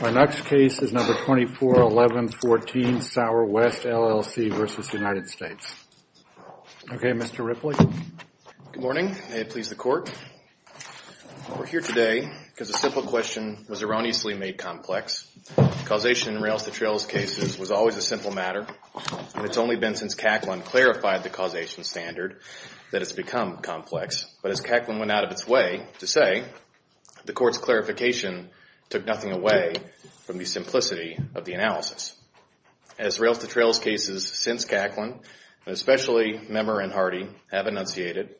My next case is number 241114 Sauer West LLC versus United States. Okay, Mr. Ripley. Good morning. May it please the court. We're here today because a simple question was erroneously made complex. Causation in rails-to-trails cases was always a simple matter, and it's only been since Kaplan clarified the causation standard that it's become complex. But as Kaplan went out of its way to say, the court's clarification took nothing away from the simplicity of the analysis. As rails-to-trails cases since Kaplan, and especially Memer and Hardy, have enunciated,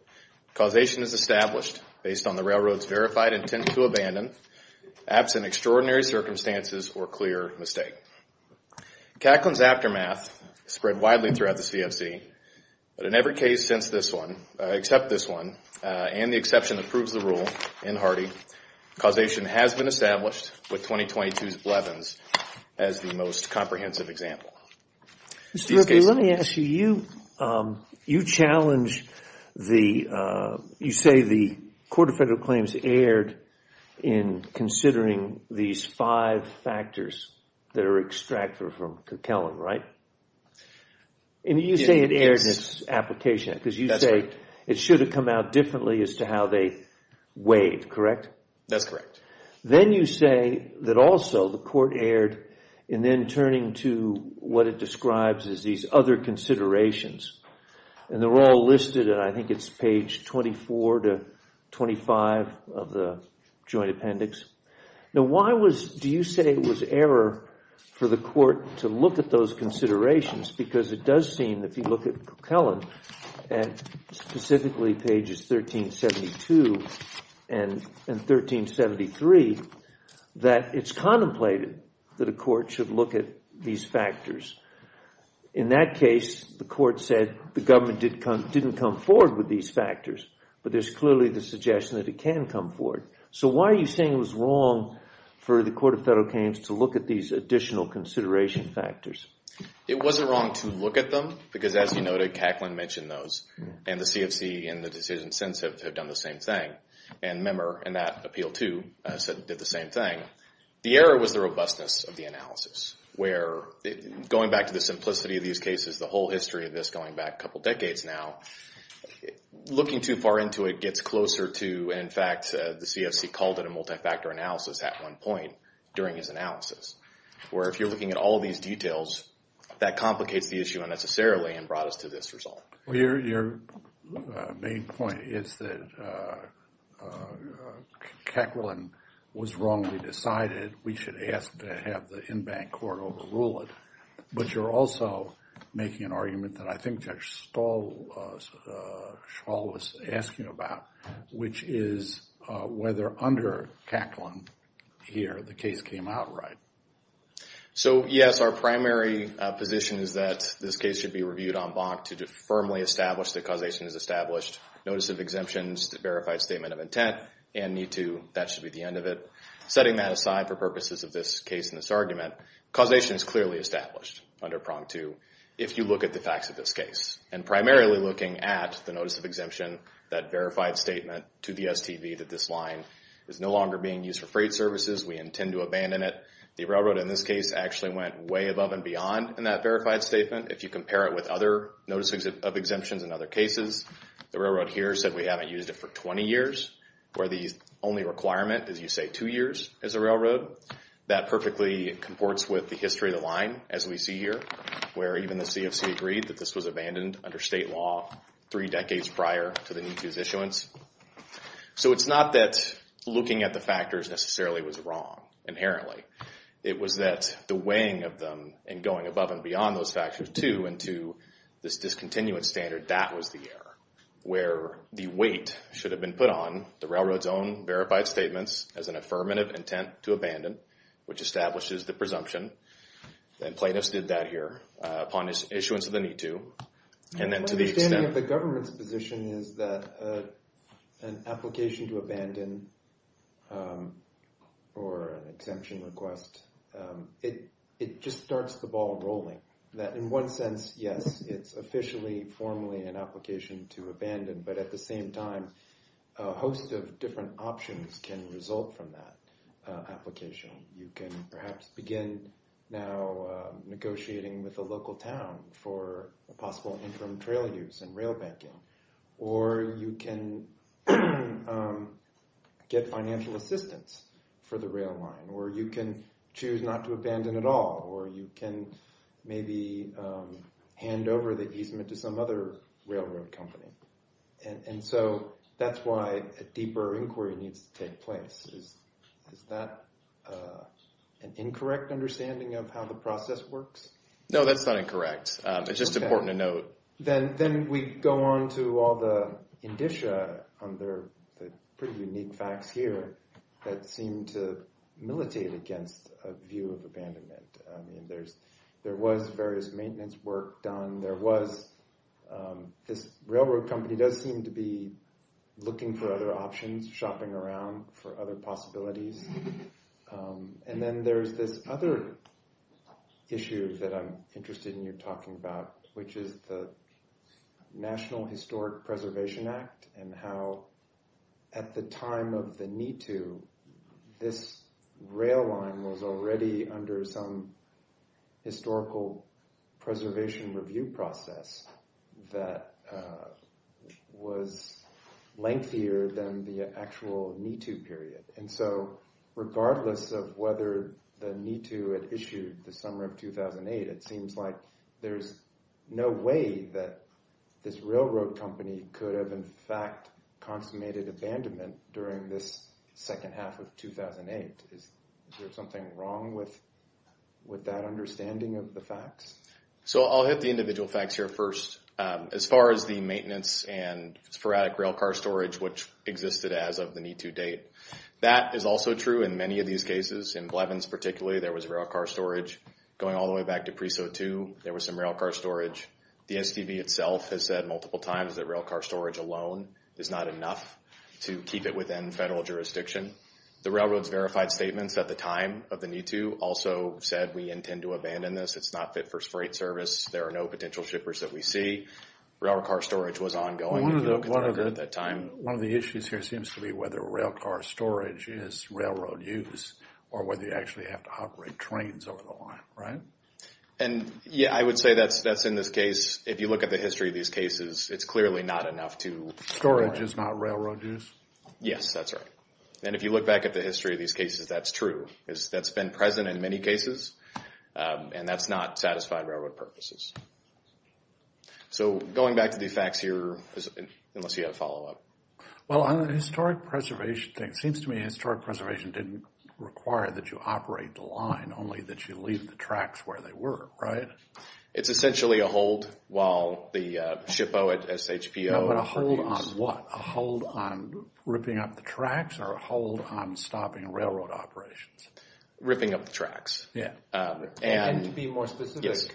causation is established based on the railroad's verified intent to abandon, absent extraordinary circumstances or clear mistake. Kaplan's aftermath spread widely throughout the CFC, but in every case since this one, except this one, and the exception that proves the rule in Hardy, causation has been established with 2022's Blevins as the most comprehensive example. Mr. Ripley, let me ask you, you challenge the, you say the Court of Federal Claims erred in considering these five factors that are from Kaplan, right? And you say it erred in its application because you say it should have come out differently as to how they weighed, correct? That's correct. Then you say that also the court erred in then turning to what it describes as these other considerations, and they're all listed, and I think it's page 24 to 25 of the joint appendix. Now why was, do you say it was error for the court to look at those considerations? Because it does seem, if you look at Coquillon, and specifically pages 1372 and 1373, that it's contemplated that a court should look at these factors. In that case, the court said the government didn't come forward with these factors, but there's clearly the suggestion that it can come forward. So why are you saying it was wrong for the Court of Federal Claims to look at these additional consideration factors? It wasn't wrong to look at them, because as you noted, Kaplan mentioned those, and the CFC in the decision since have done the same thing. And member in that appeal too did the same thing. The error was the robustness of the analysis, where going back to the simplicity of these cases, the whole history of this going back a couple decades now, looking too far into it gets closer to, in fact, the CFC called it a multi-factor analysis at one point during his analysis. Where if you're looking at all these details, that complicates the issue unnecessarily and brought us to this result. Your main point is that Kaplan was wrongly decided. We should ask to have the in-bank court overrule it. But you're also making an argument that I think Judge Stahl was asking about, which is whether under Kaplan here the case came out right. So yes, our primary position is that this case should be reviewed on bonk to firmly establish that causation is established. Notice of exemptions, the verified statement of intent, and need to, that should be the end of it. Setting that aside for purposes of this case in this argument, causation is clearly established under prong two, if you look at the facts of this case. And primarily looking at the notice of exemption, that verified statement to the STV that this line is no longer being used for freight services, we intend to abandon it. The railroad in this case actually went way above and beyond in that verified statement. If you compare it with other notices of exemptions in other cases, the railroad here said we haven't used it for 20 years, where the only requirement is you say two years as a railroad. That perfectly comports with the line as we see here, where even the CFC agreed that this was abandoned under state law three decades prior to the need to's issuance. So it's not that looking at the factors necessarily was wrong inherently. It was that the weighing of them and going above and beyond those factors too into this discontinuance standard, that was the error, where the weight should have been put on the railroad's own verified statements as an affirmative intent to abandon, which establishes the presumption that plaintiffs did that here upon issuance of the need to. And then to the extent... The government's position is that an application to abandon or an exemption request, it just starts the ball rolling. That in one sense, yes, it's officially formally an application to abandon. But at the same time, a host of different options can result from that application. You can perhaps begin now negotiating with a local town for a possible interim trail use and rail banking, or you can get financial assistance for the rail line, or you can choose not to abandon at all, or you can maybe hand over the easement to some other railroad company. And so that's why a deeper inquiry needs to take place. Is that an incorrect understanding of how the process works? No, that's not incorrect. It's just important to note. Then we go on to all the indicia under the pretty unique facts here that seem to militate against a view of abandonment. There was various maintenance work done. There was this railroad company does seem to be looking for other options, shopping around for other possibilities. And then there's this other issue that I'm interested in you talking about, which is the National Historic Preservation Act, and how at the time of the need to, this rail line was under some historical preservation review process that was lengthier than the actual need to period. And so regardless of whether the need to had issued the summer of 2008, it seems like there's no way that this railroad company could have in fact consummated abandonment during this second half of 2008. Is there something wrong with that understanding of the facts? So I'll hit the individual facts here first. As far as the maintenance and sporadic railcar storage, which existed as of the need to date, that is also true in many of these cases. In Blevins particularly, there was railcar storage. Going all the way back to Preso II, there was some railcar storage. The STV itself has said multiple times that railcar storage alone is not enough to keep it within federal jurisdiction. The railroad's verified statements at the time of the need to also said we intend to abandon this. It's not fit for freight service. There are no potential shippers that we see. Railcar storage was ongoing at that time. One of the issues here seems to be whether railcar storage is railroad use or whether you actually have to operate trains over the line, right? And yeah, I would say that's in this case. If you look at the history of these cases, it's clearly not enough to... Storage is not railroad use? Yes, that's right. And if you look back at the history of these cases, that's true. That's been present in many cases, and that's not satisfied railroad purposes. So going back to the facts here, unless you have a follow-up. Well, on the historic preservation thing, it seems to me historic preservation didn't require that you operate the line, only that you leave the tracks where they were, right? It's essentially a hold while the shippo at SHPO... No, but a hold on what? A hold on ripping up the tracks or a hold on stopping railroad operations? Ripping up the tracks. And to be more specific,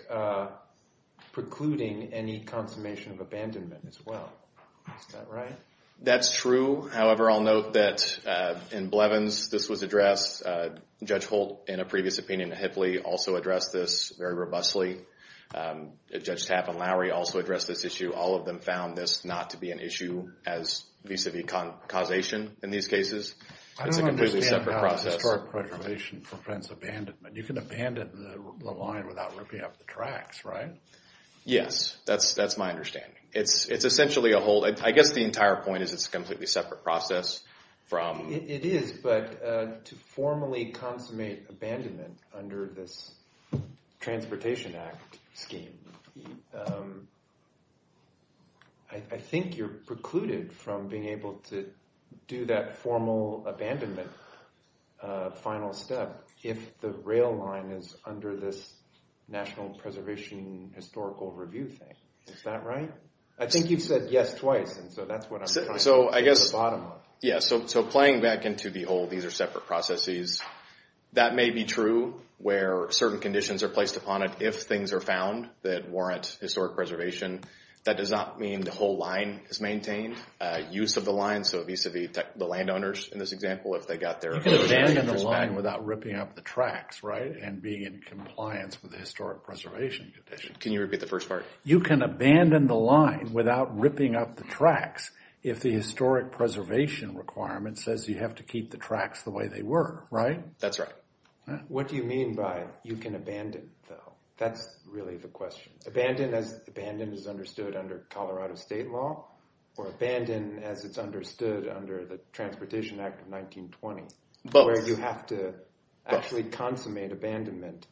precluding any consummation of abandonment as well. Is that right? That's true. However, I'll note that in Blevins, this was addressed. Judge Holt, in a previous opinion at HIPLE, also addressed this very robustly. Judge Tapp and Lowry also addressed this issue. All of them found this not to be an issue as vis-a-vis causation in these cases. It's a completely separate process. I don't understand how historic preservation prevents abandonment. You can abandon the line without ripping up the tracks, right? Yes, that's my understanding. It's essentially a hold. I guess the entire point is it's a completely separate process from... It is, but to formally consummate abandonment under this Transportation Act scheme, I think you're precluded from being able to do that formal abandonment final step if the rail line is under this National Preservation Historical Review thing. Is that right? I think you've said yes twice, and so that's what I'm trying to get to the bottom of. Yes, so playing back into the hold, these are separate processes. That may be true where certain conditions are placed upon it if things are found that warrant historic preservation. That does not mean the whole line is maintained. Use of the line, so vis-a-vis the landowners in this example, if they got their... You can abandon the line without ripping up the tracks, right? And being in compliance with the historic preservation condition. Can you repeat the first part? You can abandon the line without ripping up the tracks if the historic preservation requirement says you have to keep the tracks the way they were, right? That's right. What do you mean by you can abandon, though? That's really the question. Abandon as abandoned is understood under Colorado state law, or abandon as it's understood under the Transportation Act of 1920, where you have to actually consummate abandonment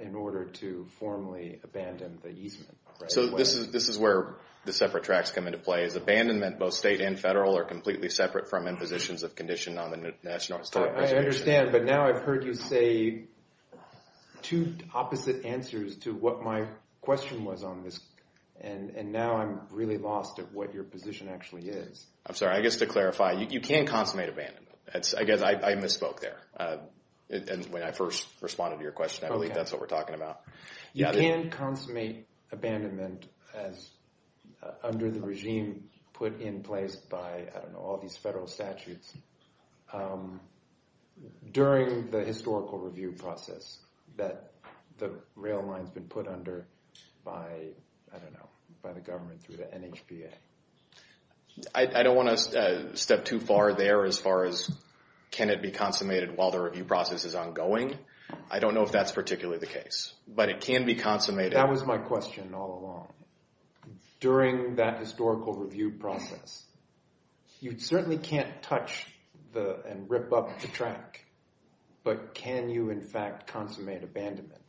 in order to formally abandon the easement, right? So this is where the separate tracks come into play. Is abandonment both state and federal or completely separate from impositions of condition on the national historic preservation? I understand, but now I've heard you say two opposite answers to what my question was on this, and now I'm really lost at what your position actually is. I'm sorry. I guess to clarify, you can consummate abandonment. I guess I misspoke there when I first responded to your question. I believe that's what we're talking about. You can consummate abandonment as under the regime put in place by, I don't know, all these federal statutes during the historical review process that the rail line's been put under by, I don't know, by the government through the NHPA. I don't want to step too far there as far as can it be consummated while the review is ongoing. I don't know if that's particularly the case, but it can be consummated. That was my question all along. During that historical review process, you certainly can't touch and rip up the track, but can you, in fact, consummate abandonment?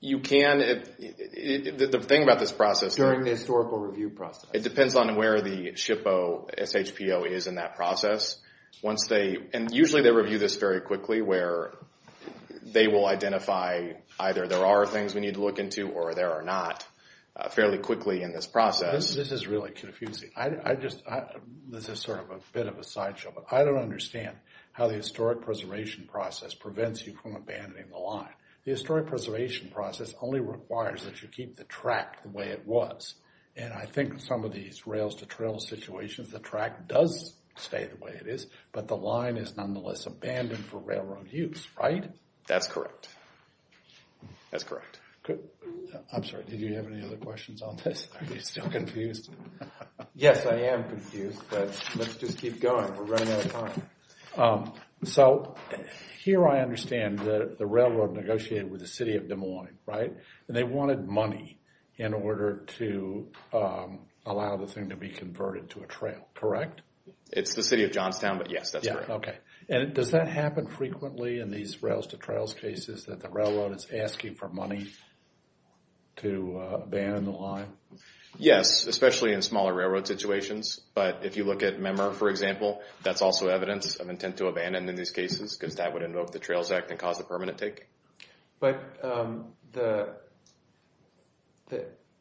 You can. The thing about this process... During the historical review process. It depends on where the SHPO is in that process. And usually they review this very quickly where they will identify either there are things we need to look into or there are not fairly quickly in this process. This is really confusing. This is sort of a bit of a sideshow, but I don't understand how the historic preservation process prevents you from abandoning the line. The historic preservation process only requires that you keep the track the way it was. And I think in some of these rails-to-trails situations, the track does stay the way it is, but the line is nonetheless abandoned for railroad use, right? That's correct. That's correct. I'm sorry, did you have any other questions on this? Are you still confused? Yes, I am confused, but let's just keep going. We're running out of time. So here I understand that the railroad negotiated with the city of Des Moines, right? And they wanted money in order to allow the thing to be converted to a trail, correct? It's the city of Johnstown, but yes, that's correct. Okay, and does that happen frequently in these rails-to-trails cases that the railroad is asking for money to abandon the line? Yes, especially in smaller railroad situations, but if you look at Memmer, for example, that's also evidence of intent to abandon in these cases because that would invoke the Trails Act and cause the permanent take. But the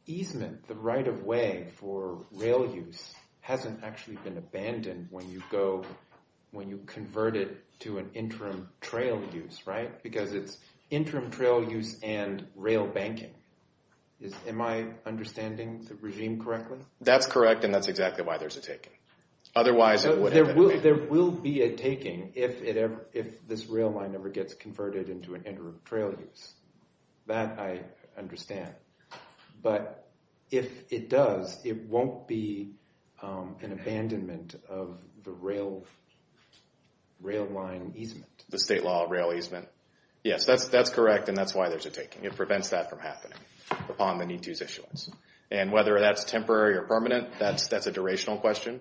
easement, the right-of-way for rail use hasn't actually been abandoned when you go, when you convert it to an interim trail use, right? Because it's interim trail use and rail banking. Am I understanding the regime correctly? That's correct, and that's exactly why there's a taking. Otherwise, there would be a taking if this rail line ever gets converted into an interim trail use. That I understand, but if it does, it won't be an abandonment of the rail line easement. The state law of rail easement. Yes, that's correct, and that's why there's a taking. It prevents that from happening upon the need-to's issuance. And whether that's temporary or permanent, that's a durational question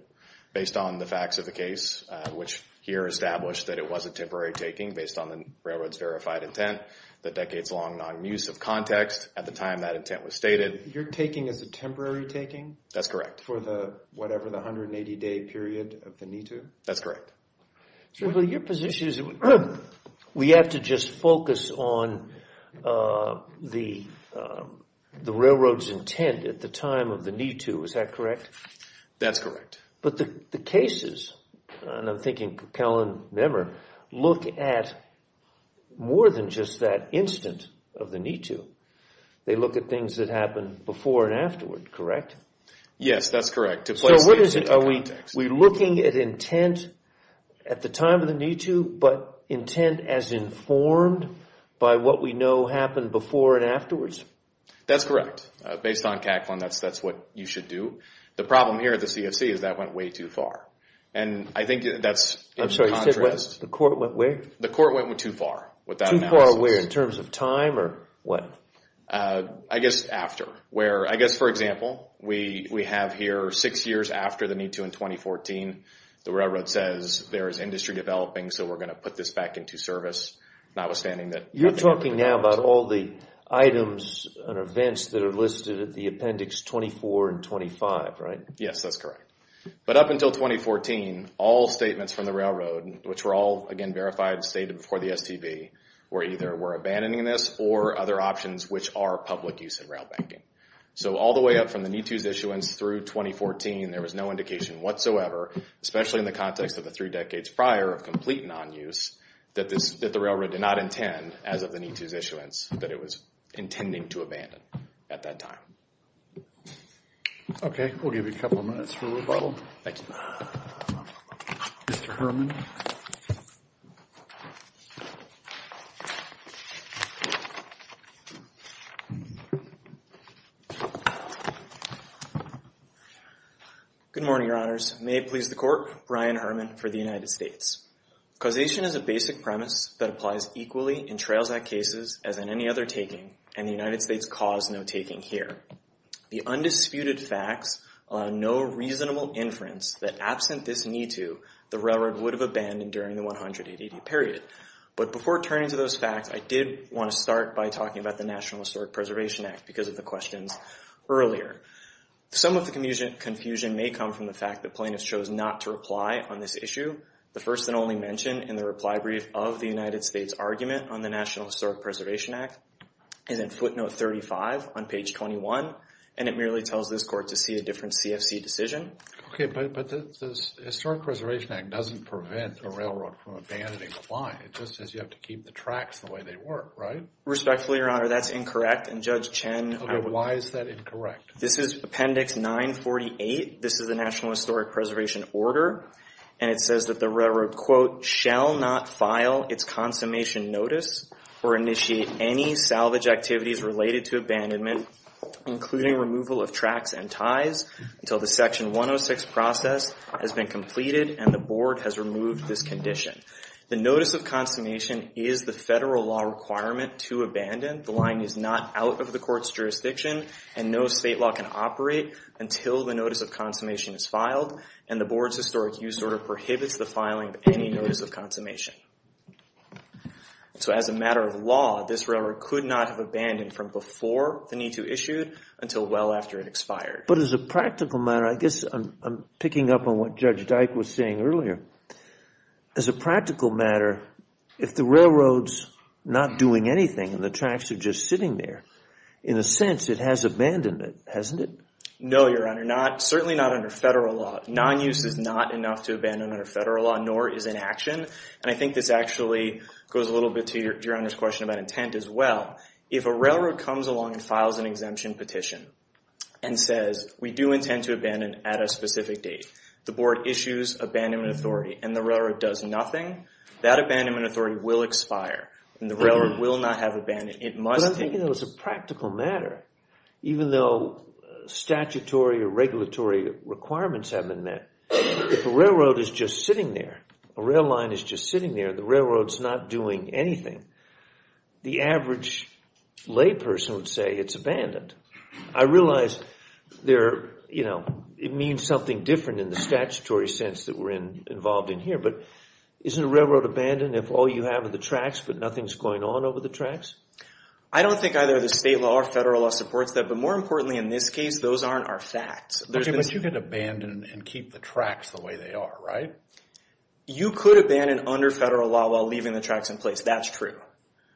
based on the facts of the case, which here established that it was a temporary taking based on the railroad's verified intent, the decades-long non-use of context at the time that intent was stated. Your taking is a temporary taking? That's correct. For the, whatever, the 180-day period of the need-to? That's correct. Well, your position is we have to just focus on the railroad's intent at the time of the need-to. Is that correct? That's correct. But the cases, and I'm thinking Kellan Nemmer, look at more than just that instant of the need-to. They look at things that happened before and afterward, correct? Yes, that's correct. So what is it? Are we looking at intent at the time of the need-to, but intent as informed by what we know happened before and afterwards? That's correct. Based on Kaplan, that's what you should do. The problem here at the CFC is that went way too far. And I think that's in contrast... I'm sorry, you said what? The court went where? The court went too far with that analysis. Too far where? In terms of time or what? I guess after. I guess, for example, we have here six years after the need-to in 2014. The railroad says there is industry developing, so we're going to put this back into service, notwithstanding that... You're talking now about all the items and events that are listed at the appendix 24 and 25, right? Yes, that's correct. But up until 2014, all statements from the railroad, which were all, again, verified, stated before the STB, were either, we're abandoning this, or other options which are public use and rail banking. So all the way up from the need-to's issuance through 2014, there was no indication whatsoever, especially in the context of the three decades prior of complete non-use, that the railroad did not intend, as of the need-to's issuance, that it was intending to abandon at that time. Okay, we'll give you a couple of minutes for rebuttal. Thank you. Mr. Herman. Good morning, Your Honors. May it please the Court, Brian Herman for the United States. Causation is a basic premise that applies equally in Trails Act cases as in any other taking, and the United States caused no taking here. The undisputed facts allow no reasonable inference that, absent this need-to, the railroad would have abandoned during the 180-day period. But before turning to those facts, I did want to start by talking about the National Historic Preservation Act, because of the questions earlier. Some of the confusion may come from the fact that plaintiffs chose not to reply on this issue. The first and only mention in the reply brief of the United States argument on the National Historic Preservation Act is in footnote 35 on page 21, and it merely tells this Court to see a different CFC decision. Okay, but the Historic Preservation Act doesn't prevent a railroad from abandoning the line. It just says you have to keep the tracks the way they were, right? Respectfully, Your Honor, that's incorrect, and Judge Chen... Okay, but why is that incorrect? This is Appendix 948. This is the National Historic Preservation Order, and it says that the railroad, quote, shall not file its consummation notice or initiate any salvage activities related to abandonment, including removal of tracks and ties, until the Section 106 process has been completed and the Board has removed this condition. The notice of consummation is the federal law requirement to abandon. The line is not out of the Court's jurisdiction, and no state law can operate until the notice of consummation is filed, and the Board's historic use order prohibits the filing of any notice of consummation. So as a matter of law, this railroad could not have abandoned from before the NITU issued until well after it expired. But as a practical matter, I guess I'm picking up on what Judge Dyke was saying earlier. As a practical matter, if the railroad's not doing anything and the tracks are just sitting there, in a sense, it has abandoned it, hasn't it? No, Your Honor, certainly not under federal law. Non-use is not enough to abandon under federal law, nor is inaction. And I think this actually goes a little bit to Your Honor's question about intent as well. If a railroad comes along and files an exemption petition and says, we do intend to abandon at a specific date, the Board issues abandonment authority, and the railroad does nothing, that abandonment authority will expire, and the railroad will not have abandoned. But I'm thinking that as a practical matter, even though statutory or regulatory requirements have been met, if a railroad is just sitting there, a rail line is just sitting there, the railroad's not doing anything, the average layperson would say it's abandoned. I realize it means something different in the statutory sense that we're involved in here, but isn't a railroad abandoned if all you have are the tracks, but nothing's going on over the tracks? I don't think either the state law or federal law supports that, but more importantly in this case, those aren't our facts. Okay, but you can abandon and keep the tracks the way they are, right? You could abandon under federal law while leaving the tracks in place, that's true.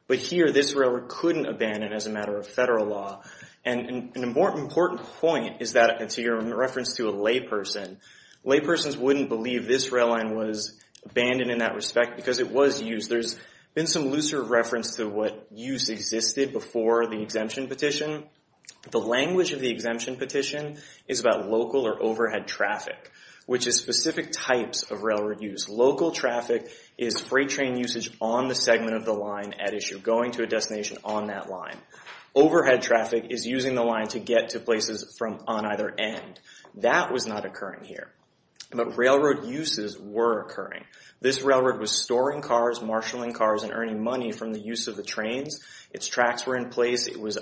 But here, this railroad couldn't abandon as a matter of federal law, and an important point is that, to your reference to a layperson, laypersons wouldn't believe this rail line was abandoned in that respect because it was used. There's been some looser reference to what use existed before the exemption petition. The language of the exemption petition is about local or overhead traffic, which is specific types of railroad use. Local traffic is freight train usage on the segment of the line at issue, going to a destination on that line. Overhead traffic is using the line to get to places from on either end. That was not occurring here, but railroad uses were occurring. This railroad was storing cars, marshalling cars, and earning money from the use of the trains. Its tracks were in place. It was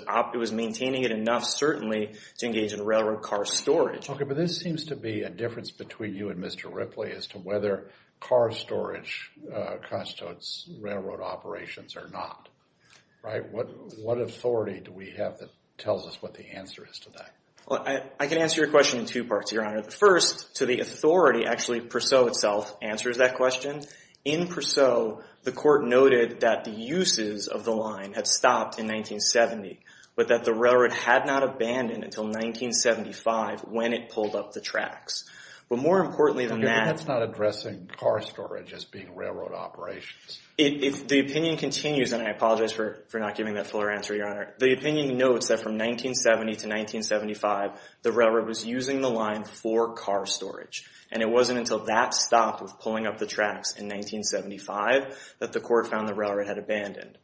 maintaining it enough, certainly, to engage in railroad car storage. Okay, but this seems to be a difference between you and Mr. Ripley as to whether car storage constitutes railroad operations or not, right? What authority do we have that tells us what the answer is to that? Well, I can answer your question in two parts, Your Honor. First, to the authority, actually, Purceau itself answers that question. In Purceau, the court noted that the uses of the line had stopped in 1970, but that the railroad had not abandoned until 1975 when it pulled up the tracks. But more importantly than that- That's not addressing car storage as being railroad operations. The opinion continues, and I apologize for not giving that fuller answer, Your Honor. The opinion notes that from 1970 to 1975, the railroad was using the line for car storage, and it wasn't until that stopped with pulling up the tracks in 1975 that the court found the railroad had abandoned.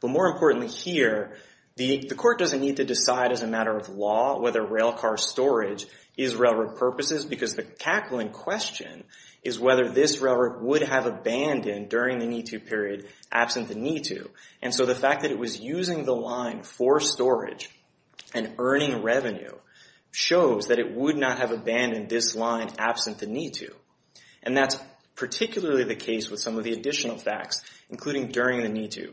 But more importantly here, the court doesn't need to decide as a matter of law whether rail car storage is railroad purposes because the tackling question is whether this railroad would have abandoned during the NITU period, absent the NITU. And so the fact that it was using the line for storage and earning revenue shows that it would not have abandoned this line absent the NITU. And that's particularly the case with some of the additional facts, including during the NITU.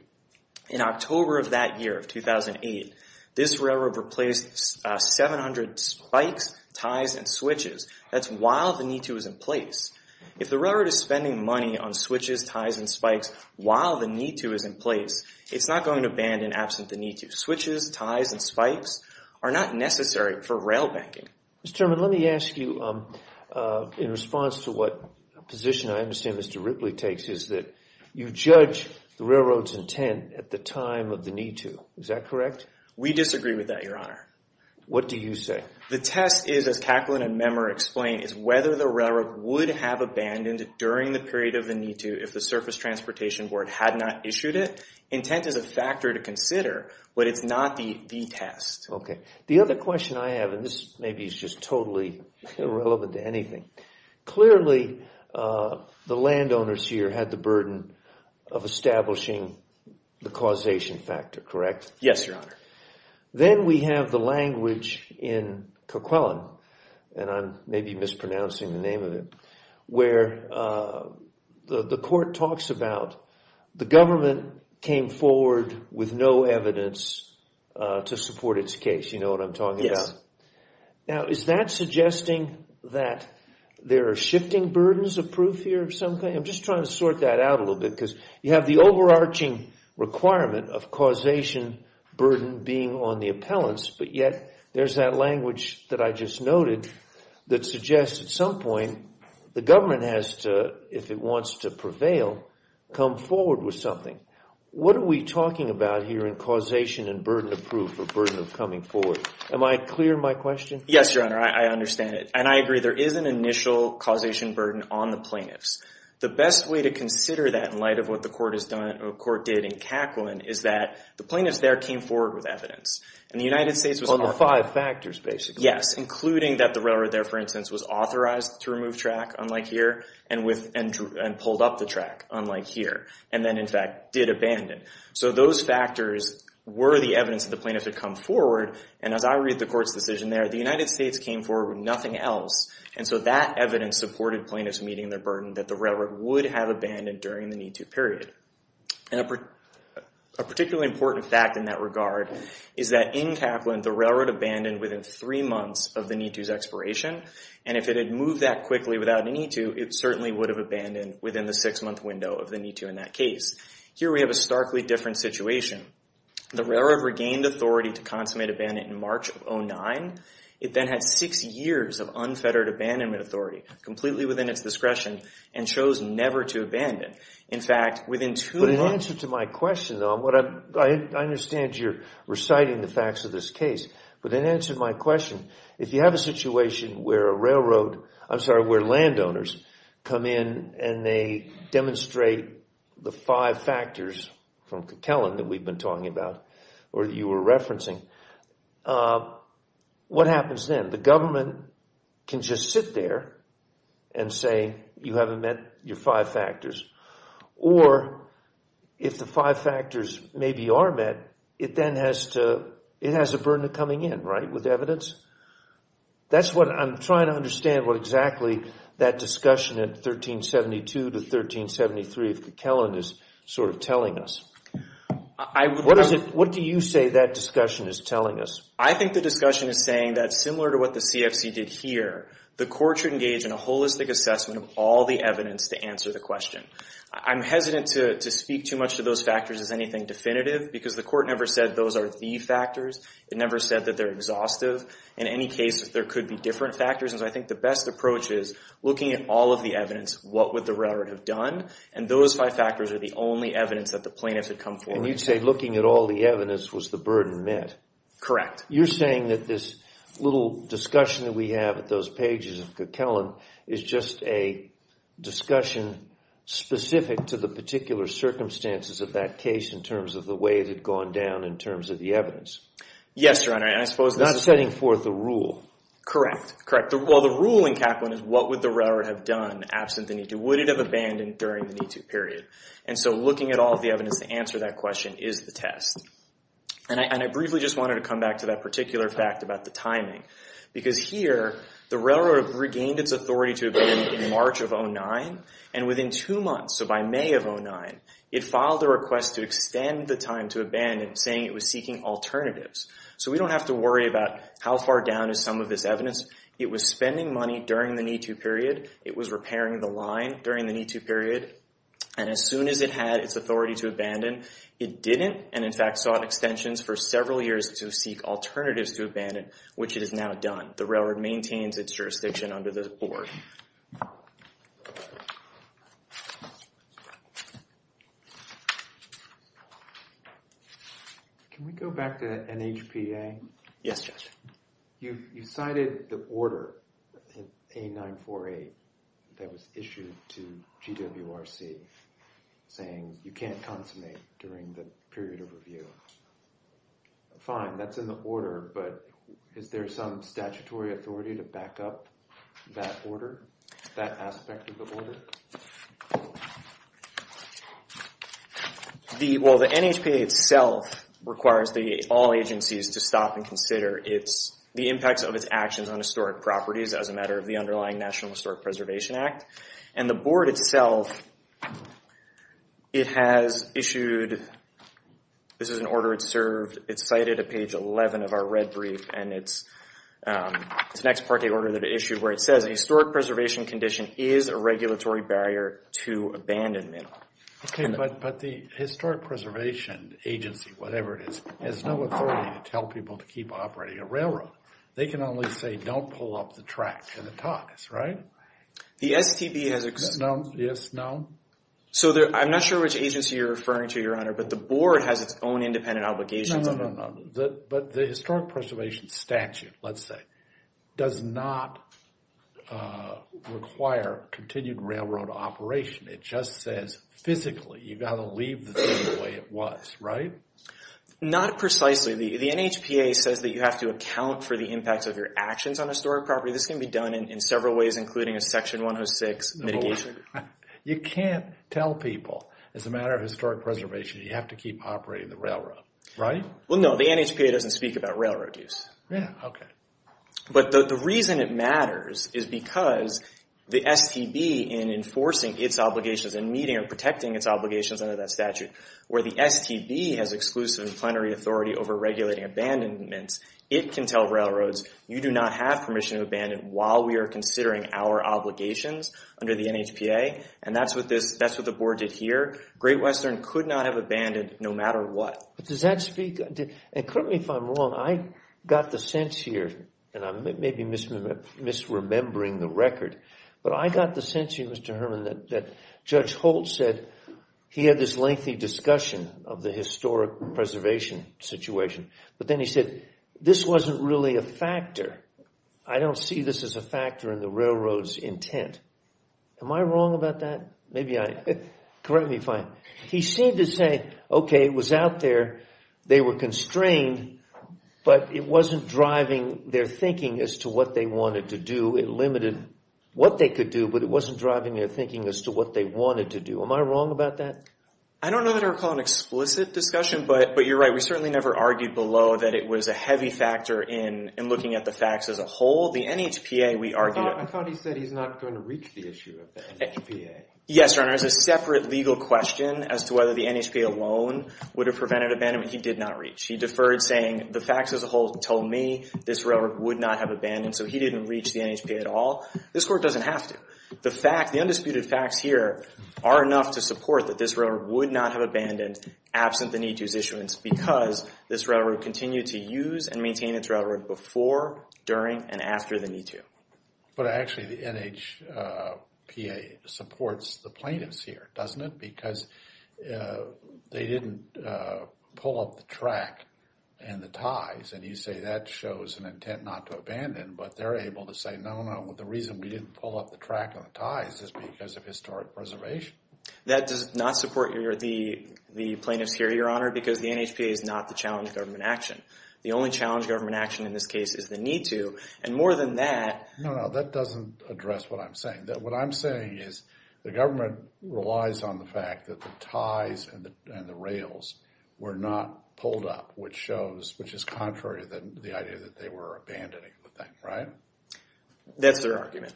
In October of that year, 2008, this railroad replaced 700 spikes, ties, and switches. That's while the NITU was in place. If the railroad is spending money on switches, ties, and spikes while the NITU is in place, it's not going to abandon absent the NITU. Switches, ties, and spikes are not necessary for rail banking. Mr. Chairman, let me ask you in response to what position I understand Mr. Ripley takes is that you judge the railroad's intent at the time of the NITU. Is that correct? We disagree with that, Your Honor. What do you say? The test is, as Kaplan and Memer explained, is whether the railroad would have abandoned during the period of the NITU if the Surface Transportation Board had not issued it. Intent is a factor to consider, but it's not the test. Okay. The other question I have, and this maybe is just totally irrelevant to anything. Clearly, the landowners here had the burden of establishing the causation factor, correct? Yes, Your Honor. Then we have the language in Coquillon, and I'm maybe mispronouncing the name of it, where the court talks about the government came forward with no evidence to support its case. You know what I'm talking about? Now, is that suggesting that there are shifting burdens of proof here of some kind? I'm just trying to sort that out a little bit You have the overarching requirement of causation burden being on the appellants, but yet there's that language that I just noted that suggests at some point the government has to, if it wants to prevail, come forward with something. What are we talking about here in causation and burden of proof or burden of coming forward? Am I clear in my question? Yes, Your Honor. I understand it, and I agree. There is an initial causation burden on the plaintiffs. The best way to consider that in light of what the court did in Coquillon is that the plaintiffs there came forward with evidence, and the United States was- On the five factors, basically. Yes, including that the railroad there, for instance, was authorized to remove track, unlike here, and pulled up the track, unlike here, and then, in fact, did abandon. So those factors were the evidence that the plaintiffs had come forward, and as I read the court's decision there, the United States came forward with nothing else, and so that evidence supported plaintiffs meeting their burden that the railroad would have abandoned during the MeToo period. And a particularly important fact in that regard is that in Kaplan, the railroad abandoned within three months of the MeToo's expiration, and if it had moved that quickly without a MeToo, it certainly would have abandoned within the six-month window of the MeToo in that case. Here, we have a starkly different situation. The railroad regained authority to consummate abandonment in March of 2009. It then had six years of unfettered abandonment authority, completely within its discretion, and chose never to abandon. In fact, within two months... But in answer to my question, though, what I... I understand you're reciting the facts of this case, but in answer to my question, if you have a situation where a railroad... I'm sorry, where landowners come in and they demonstrate the five factors from Kaplan that we've been talking about, or that you were referencing, what happens then? The government can just sit there and say, you haven't met your five factors, or if the five factors maybe are met, it then has to... It has a burden of coming in, right, with evidence? That's what I'm trying to understand, what exactly that discussion at 1372 to 1373 of Kaplan is sort of telling us. What do you say that discussion is telling us? I think the discussion is saying that similar to what the CFC did here, the court should engage in a holistic assessment of all the evidence to answer the question. I'm hesitant to speak too much to those factors as anything definitive, because the court never said those are the factors. It never said that they're exhaustive. In any case, there could be different factors, and so I think the best approach is looking at all of the evidence, what would the railroad have done? And those five factors are the only evidence that the plaintiffs had come forward with. And you'd say looking at all the evidence was the burden met? Correct. You're saying that this little discussion that we have at those pages of Coquillon is just a discussion specific to the particular circumstances of that case in terms of the way it had gone down in terms of the evidence? Yes, Your Honor. And I suppose this is... This is setting forth a rule. Correct. Correct. Well, the rule in Kaplan is what would the railroad have done absent the need to, would it have abandoned during the need to period? And so looking at all of the evidence to answer that question is the test. And I briefly just wanted to come back to that particular fact about the timing. Because here, the railroad regained its authority to abandon in March of 2009, and within two months, so by May of 2009, it filed a request to extend the time to abandon, saying it was seeking alternatives. So we don't have to worry about how far down is some of this evidence. It was spending money during the need to period. It was repairing the line during the need to period. And as soon as it had its authority to abandon, it didn't, and in fact, sought extensions for several years to seek alternatives to abandon, which it has now done. The railroad maintains its jurisdiction under this board. Can we go back to NHPA? Yes, Judge. You cited the order, A948, that was issued to GWRC saying you can't consummate during the period of review. Fine, that's in the order, but is there some statutory authority to back up that order, that aspect of the order? Well, the NHPA itself requires all agencies to stop and consider the impacts of its actions on historic properties as a matter of the underlying National Historic Preservation Act. And the board itself, it has issued, this is an order it served, it's cited at page 11 of our red brief, and it's an ex parte order that it issued where it says a historic preservation condition is a regulatory barrier to abandonment. Okay, but the Historic Preservation Agency, whatever it is, has no authority to tell people to keep operating a railroad. They can only say don't pull up the track for the talks, right? The STB has... No, yes, no. So I'm not sure which agency you're referring to, Your Honor, but the board has its own independent obligations. No, no, no, but the Historic Preservation Statute, let's say, does not require continued railroad operation. It just says physically, you've got to leave the thing the way it was, right? Not precisely. The NHPA says that you have to account for the impacts of your actions on historic property. This can be done in several ways, including a Section 106 mitigation. You can't tell people, as a matter of historic preservation, you have to keep operating the railroad, right? Well, no, the NHPA doesn't speak about railroad use. Yeah, okay. But the reason it matters is because the STB, in enforcing its obligations and meeting and protecting its obligations under that statute, where the STB has exclusive plenary authority over regulating abandonments, it can tell railroads, you do not have permission to abandon while we are considering our obligations under the NHPA. And that's what the Board did here. Great Western could not have abandoned, no matter what. But does that speak... And correct me if I'm wrong, I got the sense here, and I may be misremembering the record, but I got the sense here, Mr. Herman, that Judge Holt said he had this lengthy discussion of the historic preservation situation. But then he said, this wasn't really a factor. I don't see this as a factor in the railroad's intent. Am I wrong about that? Maybe I... Correct me if I'm... He seemed to say, okay, it was out there, they were constrained, but it wasn't driving their thinking as to what they wanted to do. It limited what they could do, but it wasn't driving their thinking as to what they wanted to do. Am I wrong about that? I don't know that I recall an explicit discussion, but you're right. We certainly never argued below that it was a heavy factor in looking at the facts as a whole. The NHPA, we argued... I thought he said he's not going to reach the issue of the NHPA. Yes, Your Honor, it's a separate legal question as to whether the NHPA alone would have prevented abandonment. He did not reach. He deferred saying, the facts as a whole told me this railroad would not have abandoned, so he didn't reach the NHPA at all. This Court doesn't have to. The fact, the undisputed facts here are enough to support that this railroad would not have abandoned absent the need to use issuance because this railroad continued to use and maintain its railroad before, during, and after the need to. But actually, the NHPA supports the plaintiffs here, doesn't it? Because they didn't pull up the track and the ties, and you say that shows an intent not to abandon, but they're able to say, no, no, the reason we didn't pull up the track and the ties is because of historic preservation. That does not support the plaintiffs here, Your Honor, because the NHPA is not the challenge of government action. The only challenge of government action in this case is the need to, and more than that... No, no, that doesn't address what I'm saying. What I'm saying is the government relies on the fact that the ties and the rails were not pulled up, which shows, which is contrary to the idea that they were abandoning the thing, right? That's their argument.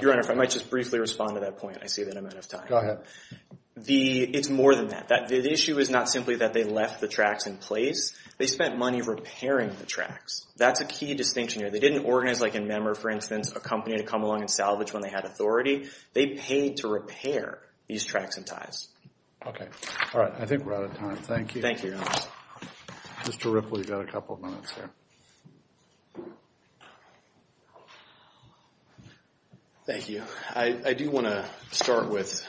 Your Honor, if I might just briefly respond to that point, I see that I'm out of time. Go ahead. It's more than that. The issue is not simply that they left the tracks in place, they spent money repairing the tracks. That's a key distinction here. They didn't organize, like in Memmer, for instance, a company to come along and salvage when they had authority. They paid to repair these tracks and ties. Okay, all right. I think we're out of time. Thank you. Thank you, Your Honor. Mr. Ripley, you've got a couple of minutes there. Thank you. I do want to start with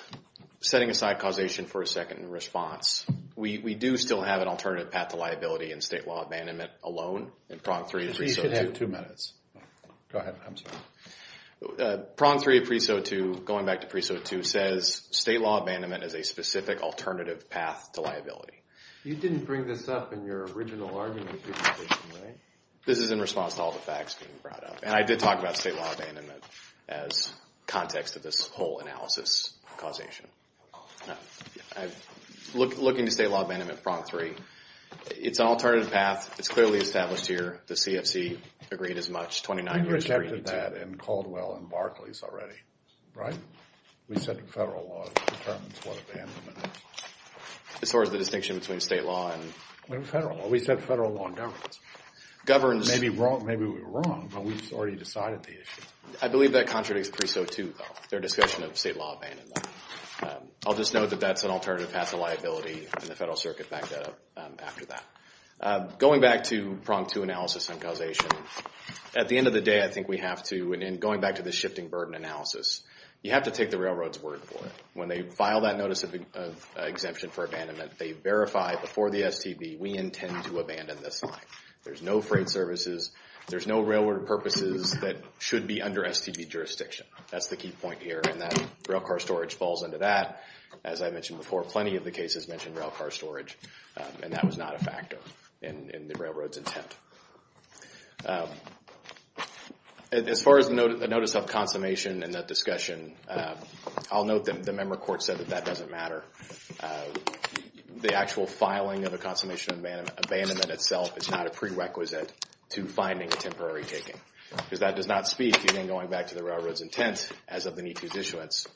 setting aside causation for a second in response. We do still have an alternative path to liability in state law abandonment alone in Prong 3. You should have two minutes. Go ahead. I'm sorry. Prong 3 of Preso 2, going back to Preso 2, says state law abandonment is a specific alternative path to liability. You didn't bring this up in your original argument. This is in response to all the facts being brought up. And I did talk about state law abandonment as context of this whole analysis of causation. I'm looking to state law abandonment in Prong 3. It's an alternative path. It's clearly established here. The CFC agreed as much. We rejected that in Caldwell and Barclays already, right? We said federal law determines what abandonment is. As far as the distinction between state law and federal law? We said federal law governs. Maybe we were wrong, but we've already decided the issue. I believe that contradicts Preso 2, though, their discussion of state law abandonment. I'll just note that that's an alternative path to liability and the Federal Circuit backed that up after that. Going back to Prong 2 analysis on causation, at the end of the day, I think we have to, and going back to the shifting burden analysis, you have to take the railroad's word for it. When they file that notice of exemption for abandonment, they verify before the STB, we intend to abandon this line. There's no freight services. There's no railroad purposes that should be under STB jurisdiction. That's the key point here. Railcar storage falls into that. As I mentioned before, plenty of the cases mentioned railcar storage, and that was not a factor in the railroad's intent. As far as the notice of consummation and that discussion, I'll note that the member court said that that doesn't matter. The actual filing of a consummation abandonment itself is not a prerequisite to finding a temporary taking, because that does not speak, even going back to the railroad's intent, as of the E-2's issuance,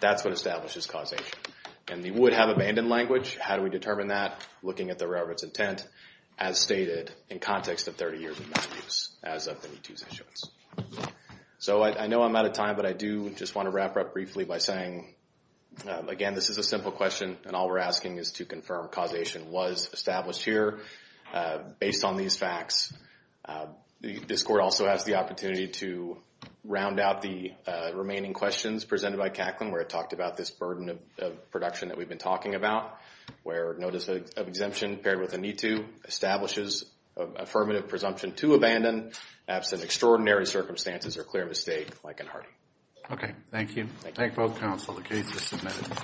that's what establishes causation. And they would have abandoned language. How do we determine that? Looking at the railroad's intent, as stated, in context of 30 years of misuse, as of the E-2's issuance. So I know I'm out of time, but I do just want to wrap up briefly by saying, again, this is a simple question, and all we're asking is to confirm causation was established here based on these facts. This court also has the opportunity to round out the remaining questions presented by Cacklin, where it talked about this burden of production that we've been talking about, where notice of exemption paired with an E-2 establishes affirmative presumption to abandon absent extraordinary circumstances or clear mistake, like in Hardy. Okay, thank you. Thank both counsel. The case is submitted.